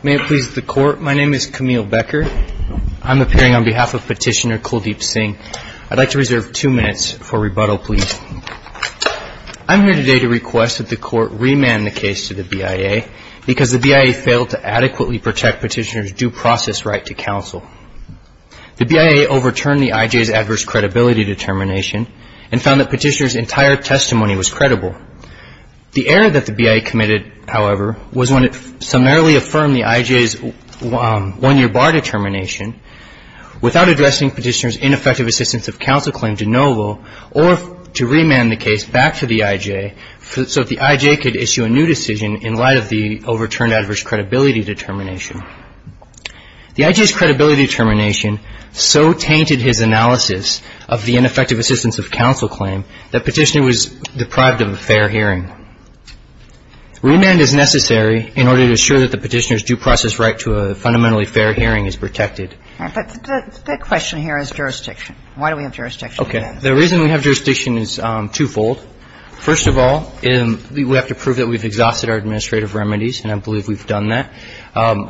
May it please the Court, my name is Camille Becker. I'm appearing on behalf of Petitioner Kuldeep Singh. I'd like to reserve two minutes for rebuttal, please. I'm here today to request that the Court remand the case to the BIA because the BIA failed to adequately protect Petitioner's due process right to counsel. The BIA overturned the IJ's adverse credibility determination and found that Petitioner's entire testimony was credible. The error that the BIA committed, however, was when it summarily affirmed the IJ's one-year bar determination without addressing Petitioner's ineffective assistance of counsel claim de novo or to remand the case back to the IJ so that the IJ could issue a new decision in light of the overturned adverse credibility determination. The IJ's credibility determination so tainted his analysis of the ineffective assistance of counsel claim that Petitioner was deprived of a fair hearing. Remand is necessary in order to assure that the Petitioner's due process right to a fundamentally fair hearing is protected. All right. But the question here is jurisdiction. Why do we have jurisdiction? Okay. The reason we have jurisdiction is twofold. First of all, we have to prove that we've exhausted our administrative remedies, and I believe we've done that.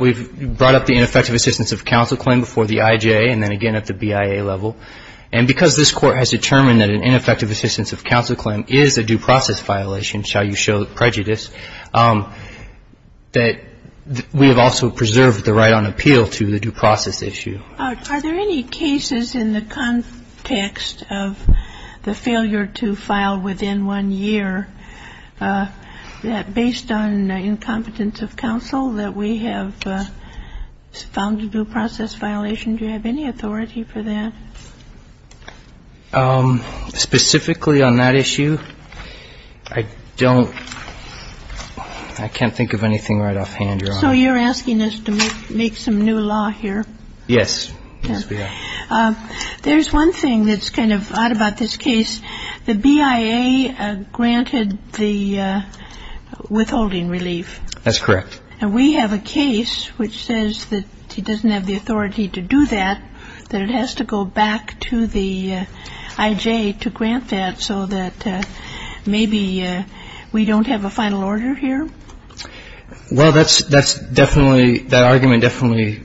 We've brought up the ineffective assistance of counsel claim before the IJ and then again at the BIA level. And because this Court has determined that an ineffective assistance of counsel claim is a due process violation, shall you show prejudice, that we have also preserved the right on appeal to the due process issue. Are there any cases in the context of the failure to file within one year that based on incompetence of counsel that we have found a due process violation? Do you have any authority for that? Specifically on that issue, I don't – I can't think of anything right offhand. So you're asking us to make some new law here? Yes. There's one thing that's kind of odd about this case. The BIA granted the withholding relief. That's correct. And we have a case which says that he doesn't have the authority to do that, that it has to go back to the IJ to grant that so that maybe we don't have a final order here? Well, that's definitely – that argument definitely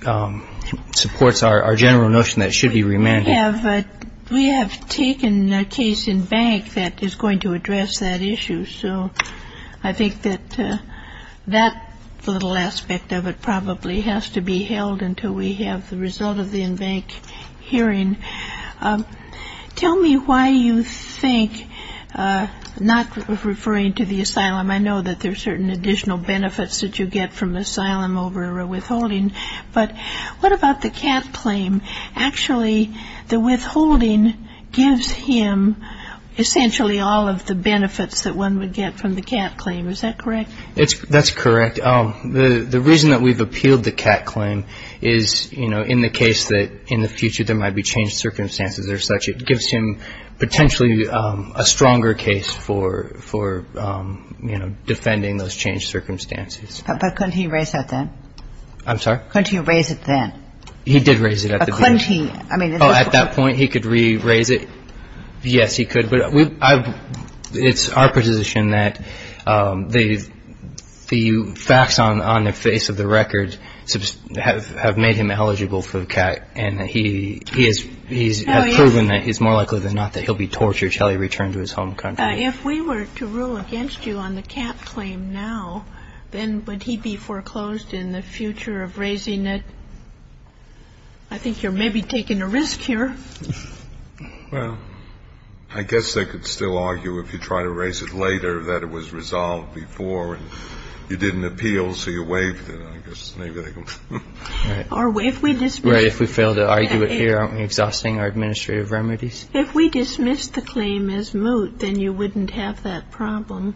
supports our general notion that it should be remanded. We have taken a case in bank that is going to address that issue. So I think that that little aspect of it probably has to be held until we have the result of the in-bank hearing. Tell me why you think – not referring to the asylum. I know that there's certain additional benefits that you get from asylum over a withholding. But what about the cat claim? Actually, the withholding gives him essentially all of the benefits that one would get from the cat claim. Is that correct? That's correct. The reason that we've appealed the cat claim is in the case that in the future there might be changed circumstances or such, it gives him potentially a stronger case for defending those changed circumstances. But couldn't he raise that then? I'm sorry? Couldn't he raise it then? He did raise it at the BIA. Couldn't he? Oh, at that point he could re-raise it? Yes, he could. But it's our position that the facts on the face of the record have made him eligible for the cat. And he has proven that it's more likely than not that he'll be tortured until he returns to his home country. If we were to rule against you on the cat claim now, then would he be foreclosed in the future of raising it? I think you're maybe taking a risk here. Well, I guess they could still argue if you try to raise it later that it was resolved before and you didn't appeal, so you waived it. I guess maybe they could. Right. If we fail to argue it here, aren't we exhausting our administrative remedies? If we dismiss the claim as moot, then you wouldn't have that problem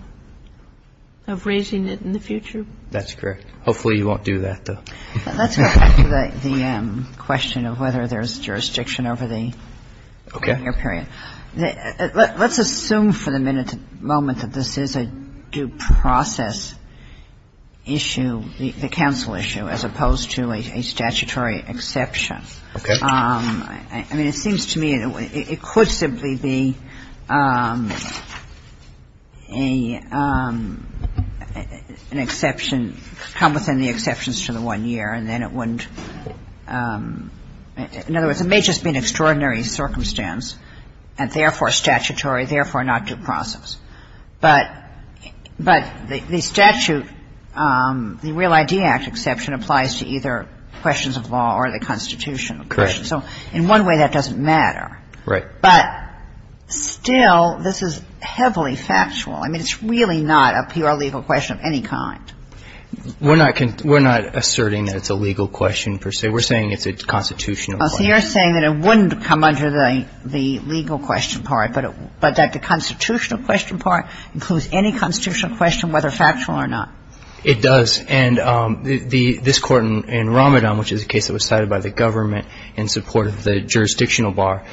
of raising it in the future. That's correct. Hopefully you won't do that, though. Let's go back to the question of whether there's jurisdiction over the tenure period. Okay. Let's assume for the moment that this is a due process issue, the counsel issue, as opposed to a statutory exception. Okay. I mean, it seems to me it could simply be an exception come within the exceptions to the one year, and then it wouldn't. In other words, it may just be an extraordinary circumstance, and therefore statutory, therefore not due process. But the statute, the Real ID Act exception applies to either questions of law or the Constitution. Correct. So in one way, that doesn't matter. Right. But still, this is heavily factual. I mean, it's really not a pure legal question of any kind. We're not asserting that it's a legal question per se. We're saying it's a constitutional question. So you're saying that it wouldn't come under the legal question part, but that the constitutional question part includes any constitutional question, whether factual or not. It does. And this Court in Ramadan, which is a case that was cited by the government in support of the jurisdictional bar,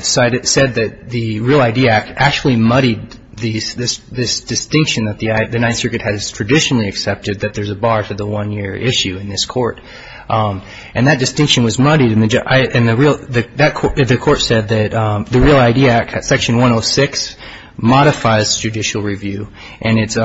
said that the Real ID Act actually muddied this distinction that the Ninth Circuit has traditionally accepted, that there's a bar to the one year issue in this court. And that distinction was muddied, and the court said that the Real ID Act, Section 106, modifies judicial review, and it's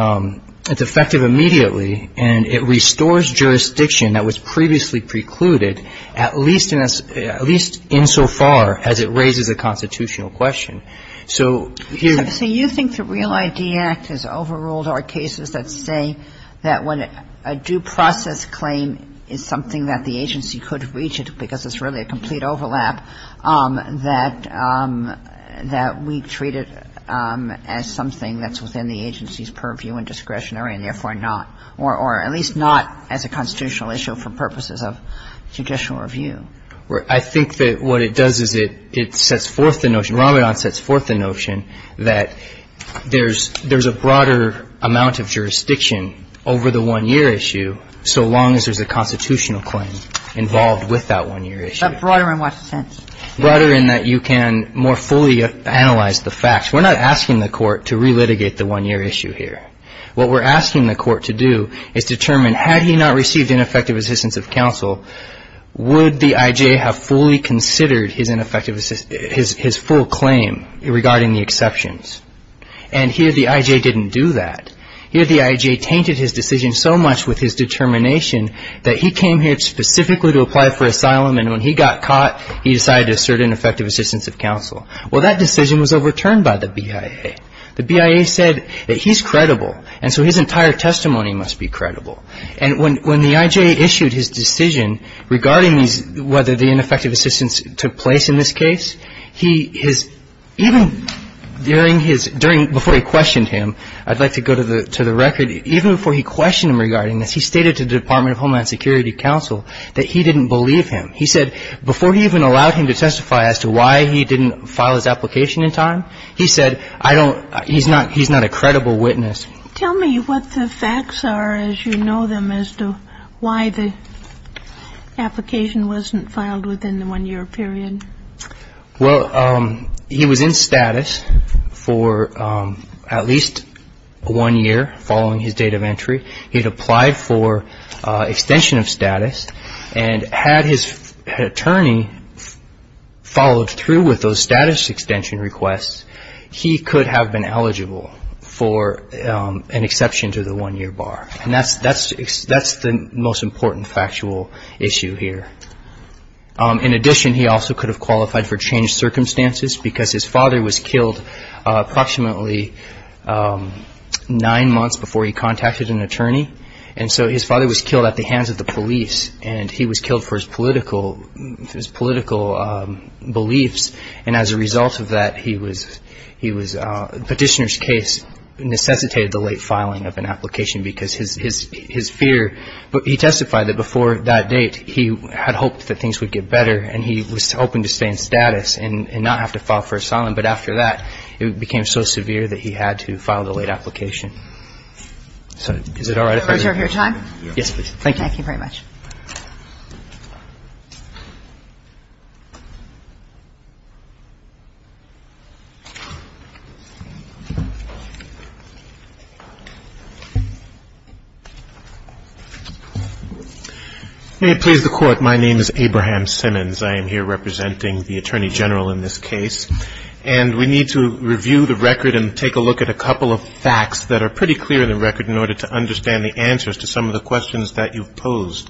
effective immediately, and it restores jurisdiction that was previously precluded, at least in so far as it raises a constitutional question. So here's the... So you think the Real ID Act has overruled our cases that say that when a due process claim is something that the agency could reach it, because it's really a complete overlap, that we treat it as something that's within the agency's purview and discretionary, and therefore not, or at least not as a constitutional issue for purposes of judicial review? I think that what it does is it sets forth the notion, Ramadan sets forth the notion that there's a broader amount of jurisdiction over the one year issue, so long as there's a constitutional claim involved with that one year issue. But broader in what sense? Broader in that you can more fully analyze the facts. We're not asking the court to re-litigate the one year issue here. What we're asking the court to do is determine, had he not received ineffective assistance of counsel, would the IJ have fully considered his full claim regarding the exceptions? And here the IJ didn't do that. Here the IJ tainted his decision so much with his determination that he came here specifically to apply for asylum, and when he got caught, he decided to assert ineffective assistance of counsel. Well, that decision was overturned by the BIA. The BIA said that he's credible, and so his entire testimony must be credible. And when the IJ issued his decision regarding whether the ineffective assistance took place in this case, he, his, even during his, before he questioned him, I'd like to go to the record, even before he questioned him regarding this, he stated to the Department of Homeland Security Counsel that he didn't believe him. He said before he even allowed him to testify as to why he didn't file his application in time, he said, I don't, he's not, he's not a credible witness. Tell me what the facts are as you know them as to why the application wasn't filed within the one year period. Well, he was in status for at least one year following his date of entry. He had applied for extension of status, and had his attorney followed through with those status extension requests, he could have been eligible for an exception to the one-year bar. And that's, that's, that's the most important factual issue here. In addition, he also could have qualified for changed circumstances because his father was killed at the hands of the police, and he was killed for his political, his political beliefs, and as a result of that, he was, he was, petitioner's case necessitated the late filing of an application because his, his, his fear, he testified that before that date, he had hoped that things would get better, and he was hoping to stay in status and not have to file for asylum, but after that, it became so severe that he had to file the late application. Is it all right if I? Yes, please. Thank you. Thank you very much. May it please the Court, my name is Abraham Simmons. I am here representing the Attorney General in this case, and we need to review the record and take a couple of facts that are pretty clear in the record in order to understand the answers to some of the questions that you've posed.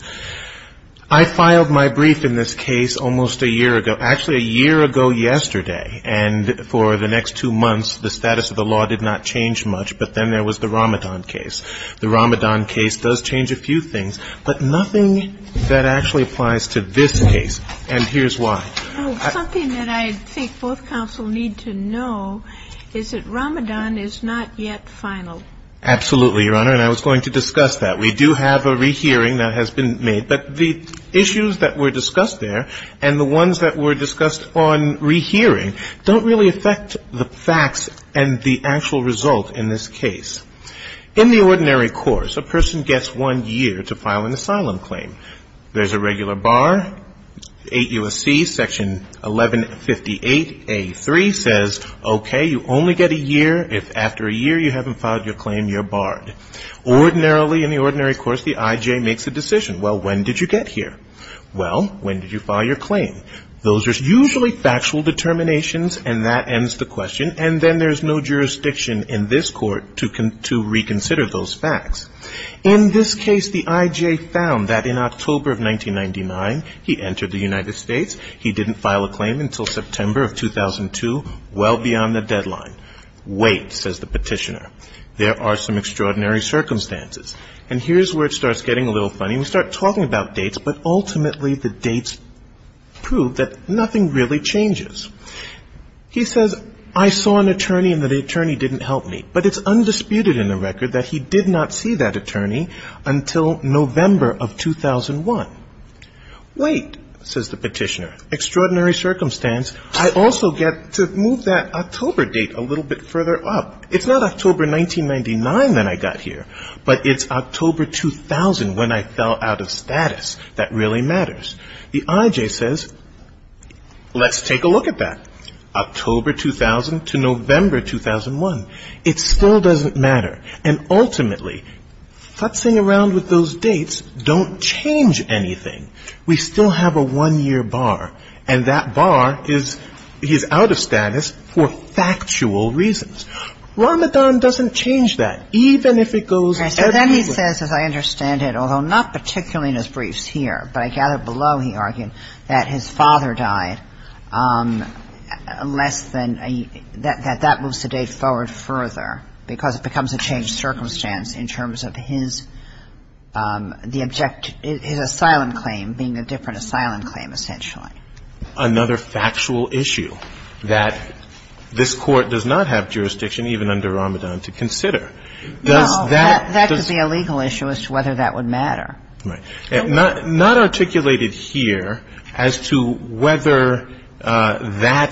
I filed my brief in this case almost a year ago, actually a year ago yesterday, and for the next two months, the status of the law did not change much, but then there was the Ramadan case. The Ramadan case does change a few things, but nothing that actually applies to this case, and here's why. Something that I think both counsel need to know is that Ramadan is not yet final. Absolutely, Your Honor, and I was going to discuss that. We do have a rehearing that has been made, but the issues that were discussed there and the ones that were discussed on rehearing don't really affect the facts and the actual result in this case. In the ordinary course, a person gets one year to file an asylum claim. There's a regular bar, 8 U.S.C. Section 1158A.3 says, okay, you only get a year. If after a year you haven't filed your claim, you're barred. Ordinarily, in the ordinary course, the I.J. makes a decision. Well, when did you get here? Well, when did you file your claim? Those are usually factual determinations, and that ends the question, and then there's no jurisdiction in this court to reconsider those facts. In this case, the I.J. found that in October of 1999, he entered the United States. He didn't file a claim until September of 2002, well beyond the deadline. Wait, says the petitioner. There are some extraordinary circumstances, and here's where it starts getting a little funny. We start talking about dates, but ultimately the dates prove that nothing really changes. He says, I saw an attorney, and the attorney didn't answer my question, and he didn't help me. But it's undisputed in the record that he did not see that attorney until November of 2001. Wait, says the petitioner. Extraordinary circumstance. I also get to move that October date a little bit further up. It's not October 1999 that I got here, but it's October 2000 when I fell out of status. That really matters. The I.J. says, let's take a look at that. October 2000 to November 2001. He says, I saw an attorney. It still doesn't matter. And ultimately, futzing around with those dates don't change anything. We still have a one-year bar, and that bar is out of status for factual reasons. Ramadan doesn't change that, even if it goes everywhere. So then he says, as I understand it, although not particularly in his briefs here, but I gather below, he argued, that his father died less than a year, that that moves the date forward further. Because it becomes a changed circumstance in terms of his the object, his asylum claim being a different asylum claim essentially. Another factual issue that this Court does not have jurisdiction, even under Ramadan, to consider. Does that... That could be a legal issue as to whether that would matter. Right. Not articulated here as to whether that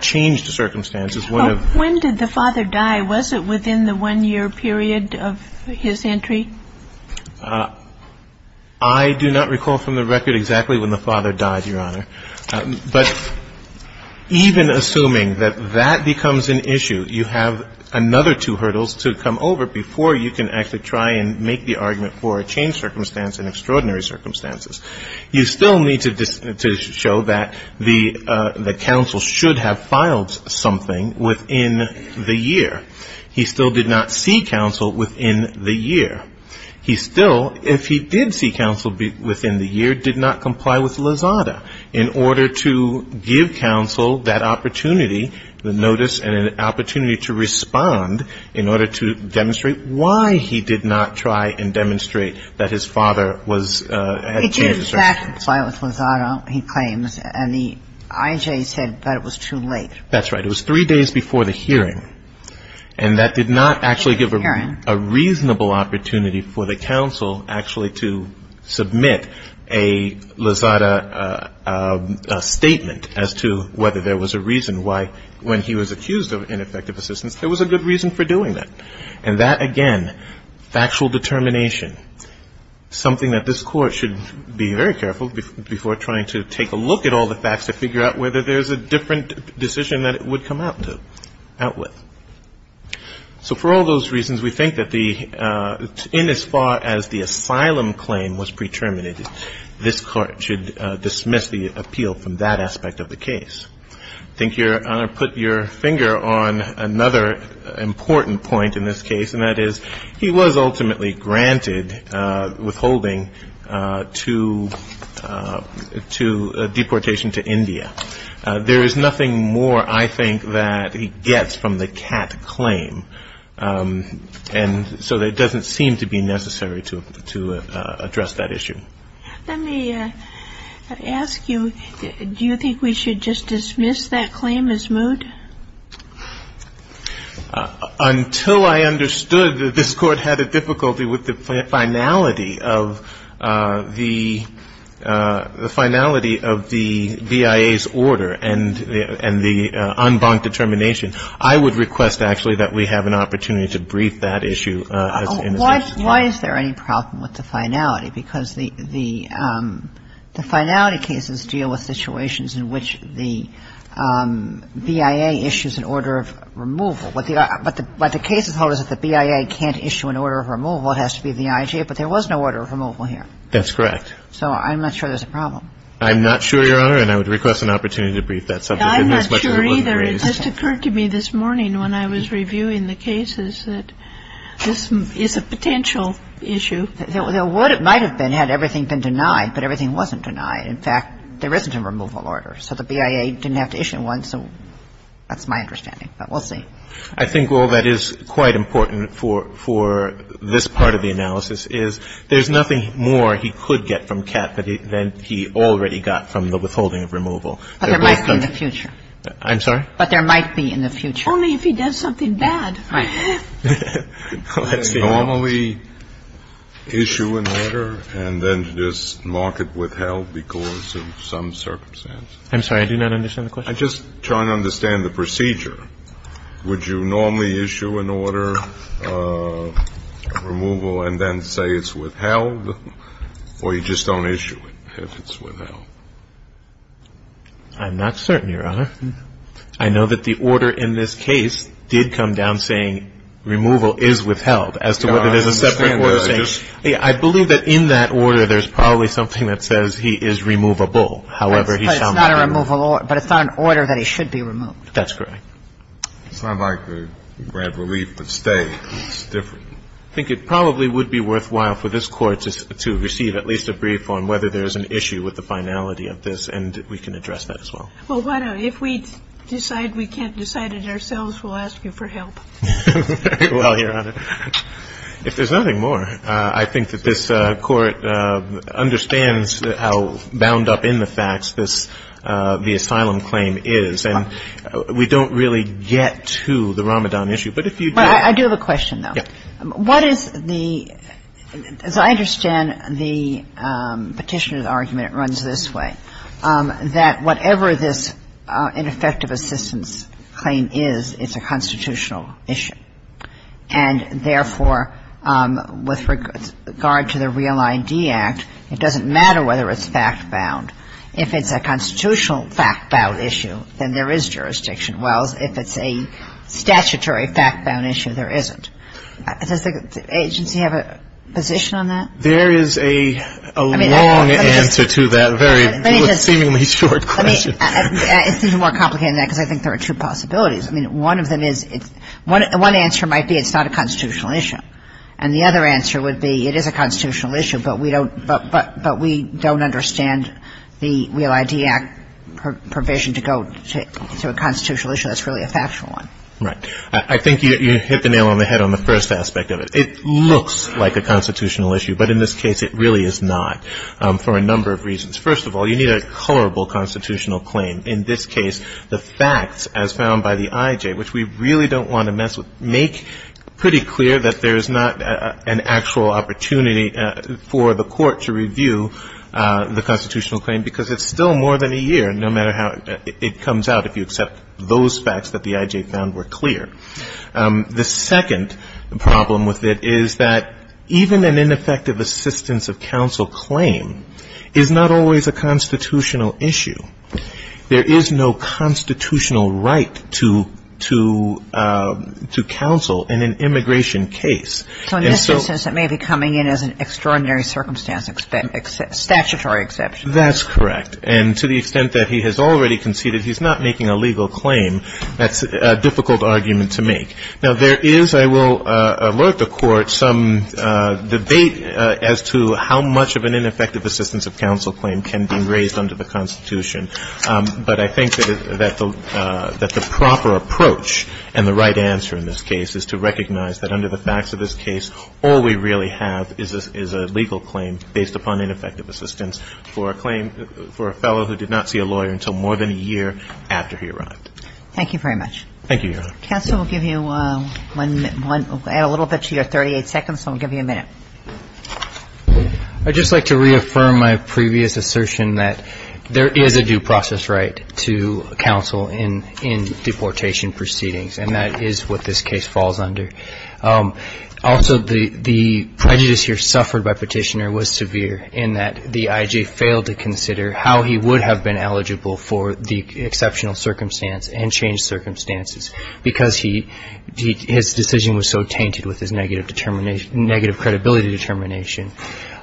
changed the circumstance. When did the father die? Was it within the one-year period of his entry? I do not recall from the record exactly when the father died, Your Honor. But even assuming that that becomes an issue, you have another two hurdles to come over before you can actually try and make the argument for a changed circumstance in extraordinary circumstances. You still need to see counsel within the year. He still did not see counsel within the year. He still, if he did see counsel within the year, did not comply with Lozada in order to give counsel that opportunity, the notice and an opportunity to respond in order to demonstrate why he did not try and demonstrate that his father was... It did, in fact, comply with Lozada, he claims. And the IJ said that it was too late for a hearing. And that did not actually give a reasonable opportunity for the counsel actually to submit a Lozada statement as to whether there was a reason why when he was accused of ineffective assistance, there was a good reason for doing that. And that, again, factual determination, something that this court should be very careful before trying to take a look at all the facts to figure out whether there's a different decision that it would come out with. So for all those reasons, we think that in as far as the asylum claim was pre-terminated, this court should dismiss the appeal from that aspect of the case. I think, Your Honor, put your finger on another important point in this case, and that is he was ultimately granted withholding to deportation to India. There is nothing more, I think, that he gets from the Catt claim. And so it doesn't seem to be necessary to address that issue. Let me ask you, do you think we should just dismiss that claim as moot? Until I understood that this court had a difficulty with the finality of the BIA's order and the en banc determination, I would request, actually, that we have an opportunity to brief that issue. Why is there any problem with the finality? Because the finality cases deal with situations in which the BIA issues an order of removal. What the case is told is that the BIA can't issue an order of removal. It has to be the IGA, but there was no order of removal here. That's correct. So I'm not sure there's a problem. I'm not sure, Your Honor, and I would request an opportunity to brief that subject. I'm not sure either. It just occurred to me this morning when I was reviewing the cases that this is a potential issue. There would have been, might have been, had everything been denied, but everything wasn't denied. In fact, there isn't a removal order, so the BIA didn't have to issue one, so that's my understanding. But we'll see. I think all that is quite important for this part of the analysis is there's nothing more he could get from Kat that he already got from the withholding of removal. But there might be in the future. I'm sorry? But there might be in the future. Only if he does something bad. Right. Normally issue an order and then just mark it withheld because of some circumstance. I'm sorry. I do not understand the question. I'm just trying to understand the procedure. Would you normally issue an order of removal and then say it's withheld, or you just don't issue it if it's withheld? I'm not certain, Your Honor. I know that the order in this case did come down saying removal is withheld as to whether there's a separate order saying. I believe that in that order there's probably something that says he is removable, however he's found to be. It's not a removal order, but it's not an order that he should be removed. That's correct. It's not like the grand relief of stay. It's different. I think it probably would be worthwhile for this Court to receive at least a brief on whether there's an issue with the finality of this, and we can address that as well. Well, why not? If we decide we can't decide it ourselves, we'll ask you for help. Well, Your Honor, if there's nothing more, I think that this Court understands how bound up in the facts this, the asylum claim is, and we don't really get to the Ramadan issue. But if you do... Well, I do have a question, though. Yeah. What is the, as I understand the petitioner's argument, it runs this way, that whatever this ineffective assistance claim is, it's a constitutional issue. And therefore, with regard to the Real ID Act, it doesn't matter whether it's fact-bound. If it's a constitutional fact-bound issue, then there is jurisdiction. Well, if it's a statutory fact-bound issue, there isn't. Does the agency have a position on that? There is a long answer to that very seemingly short question. Let me just... It's a little more complicated than that, because I think there are two possibilities. I mean, one of them is, one answer might be it's not a constitutional issue. And the other answer would be it is a constitutional issue, but we don't understand the Real ID Act provision to go to a constitutional issue that's really a factual one. Right. I think you hit the nail on the head on the first aspect of it. It looks like a constitutional issue, but in this case, it really is not, for a number of reasons. First of all, you need a colorable constitutional claim. In this case, the facts, as found by the IJ, which we really don't want to mess with, make pretty clear that there is not an actual opportunity for the court to review the constitutional claim, because it's still more than a year, no matter how it comes out, if you accept those facts that the IJ found were clear. The second problem with it is that even an ineffective assistance of counsel claim is not always a constitutional issue. There is no constitutional right to counsel in an immigration case. So in this instance, it may be coming in as an extraordinary circumstance, statutory exception. That's correct. And to the extent that he has already conceded, he's not making a legal claim. That's a difficult argument to make. Now, there is, I will alert the Court, some debate as to how much of an ineffective assistance of counsel claim can be raised under the Constitution. But I think that the proper approach and the right answer in this case is to recognize that under the facts of this case, all we really have is a legal claim based upon ineffective assistance for a claim, for a fellow who did not see a lawyer until more than a year after he arrived. Thank you very much. Thank you, Your Honor. Counsel, we'll give you one minute. We'll add a little bit to your 38 seconds, and we'll give you a minute. I'd just like to reaffirm my previous assertion that there is a due process right to counsel in deportation proceedings, and that is what this case falls under. Also, the prejudice here suffered by Petitioner was severe in that the I.J. failed to consider how he would have been eligible for the exceptional circumstance and changed circumstances because his decision was so tainted with his negative credibility determination.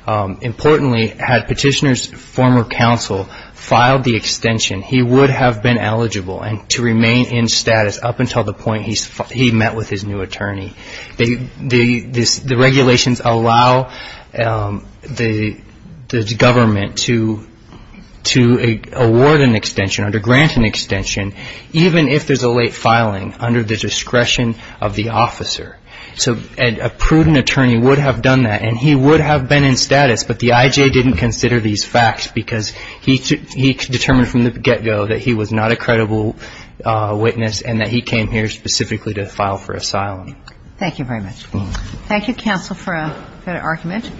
Importantly, had Petitioner's former counsel filed the extension, he would have been eligible to remain in status up until the point he met with his new attorney. The regulations allow the government to award an extension, to grant an extension, even if there's a late filing, under the discretion of the officer. So a prudent attorney would have done that, and he would have been in status, but the I.J. didn't consider these facts because he determined from the get-go that he was not a credible witness, and that he came here specifically to file for asylum. Thank you very much. Thank you, counsel, for a good argument.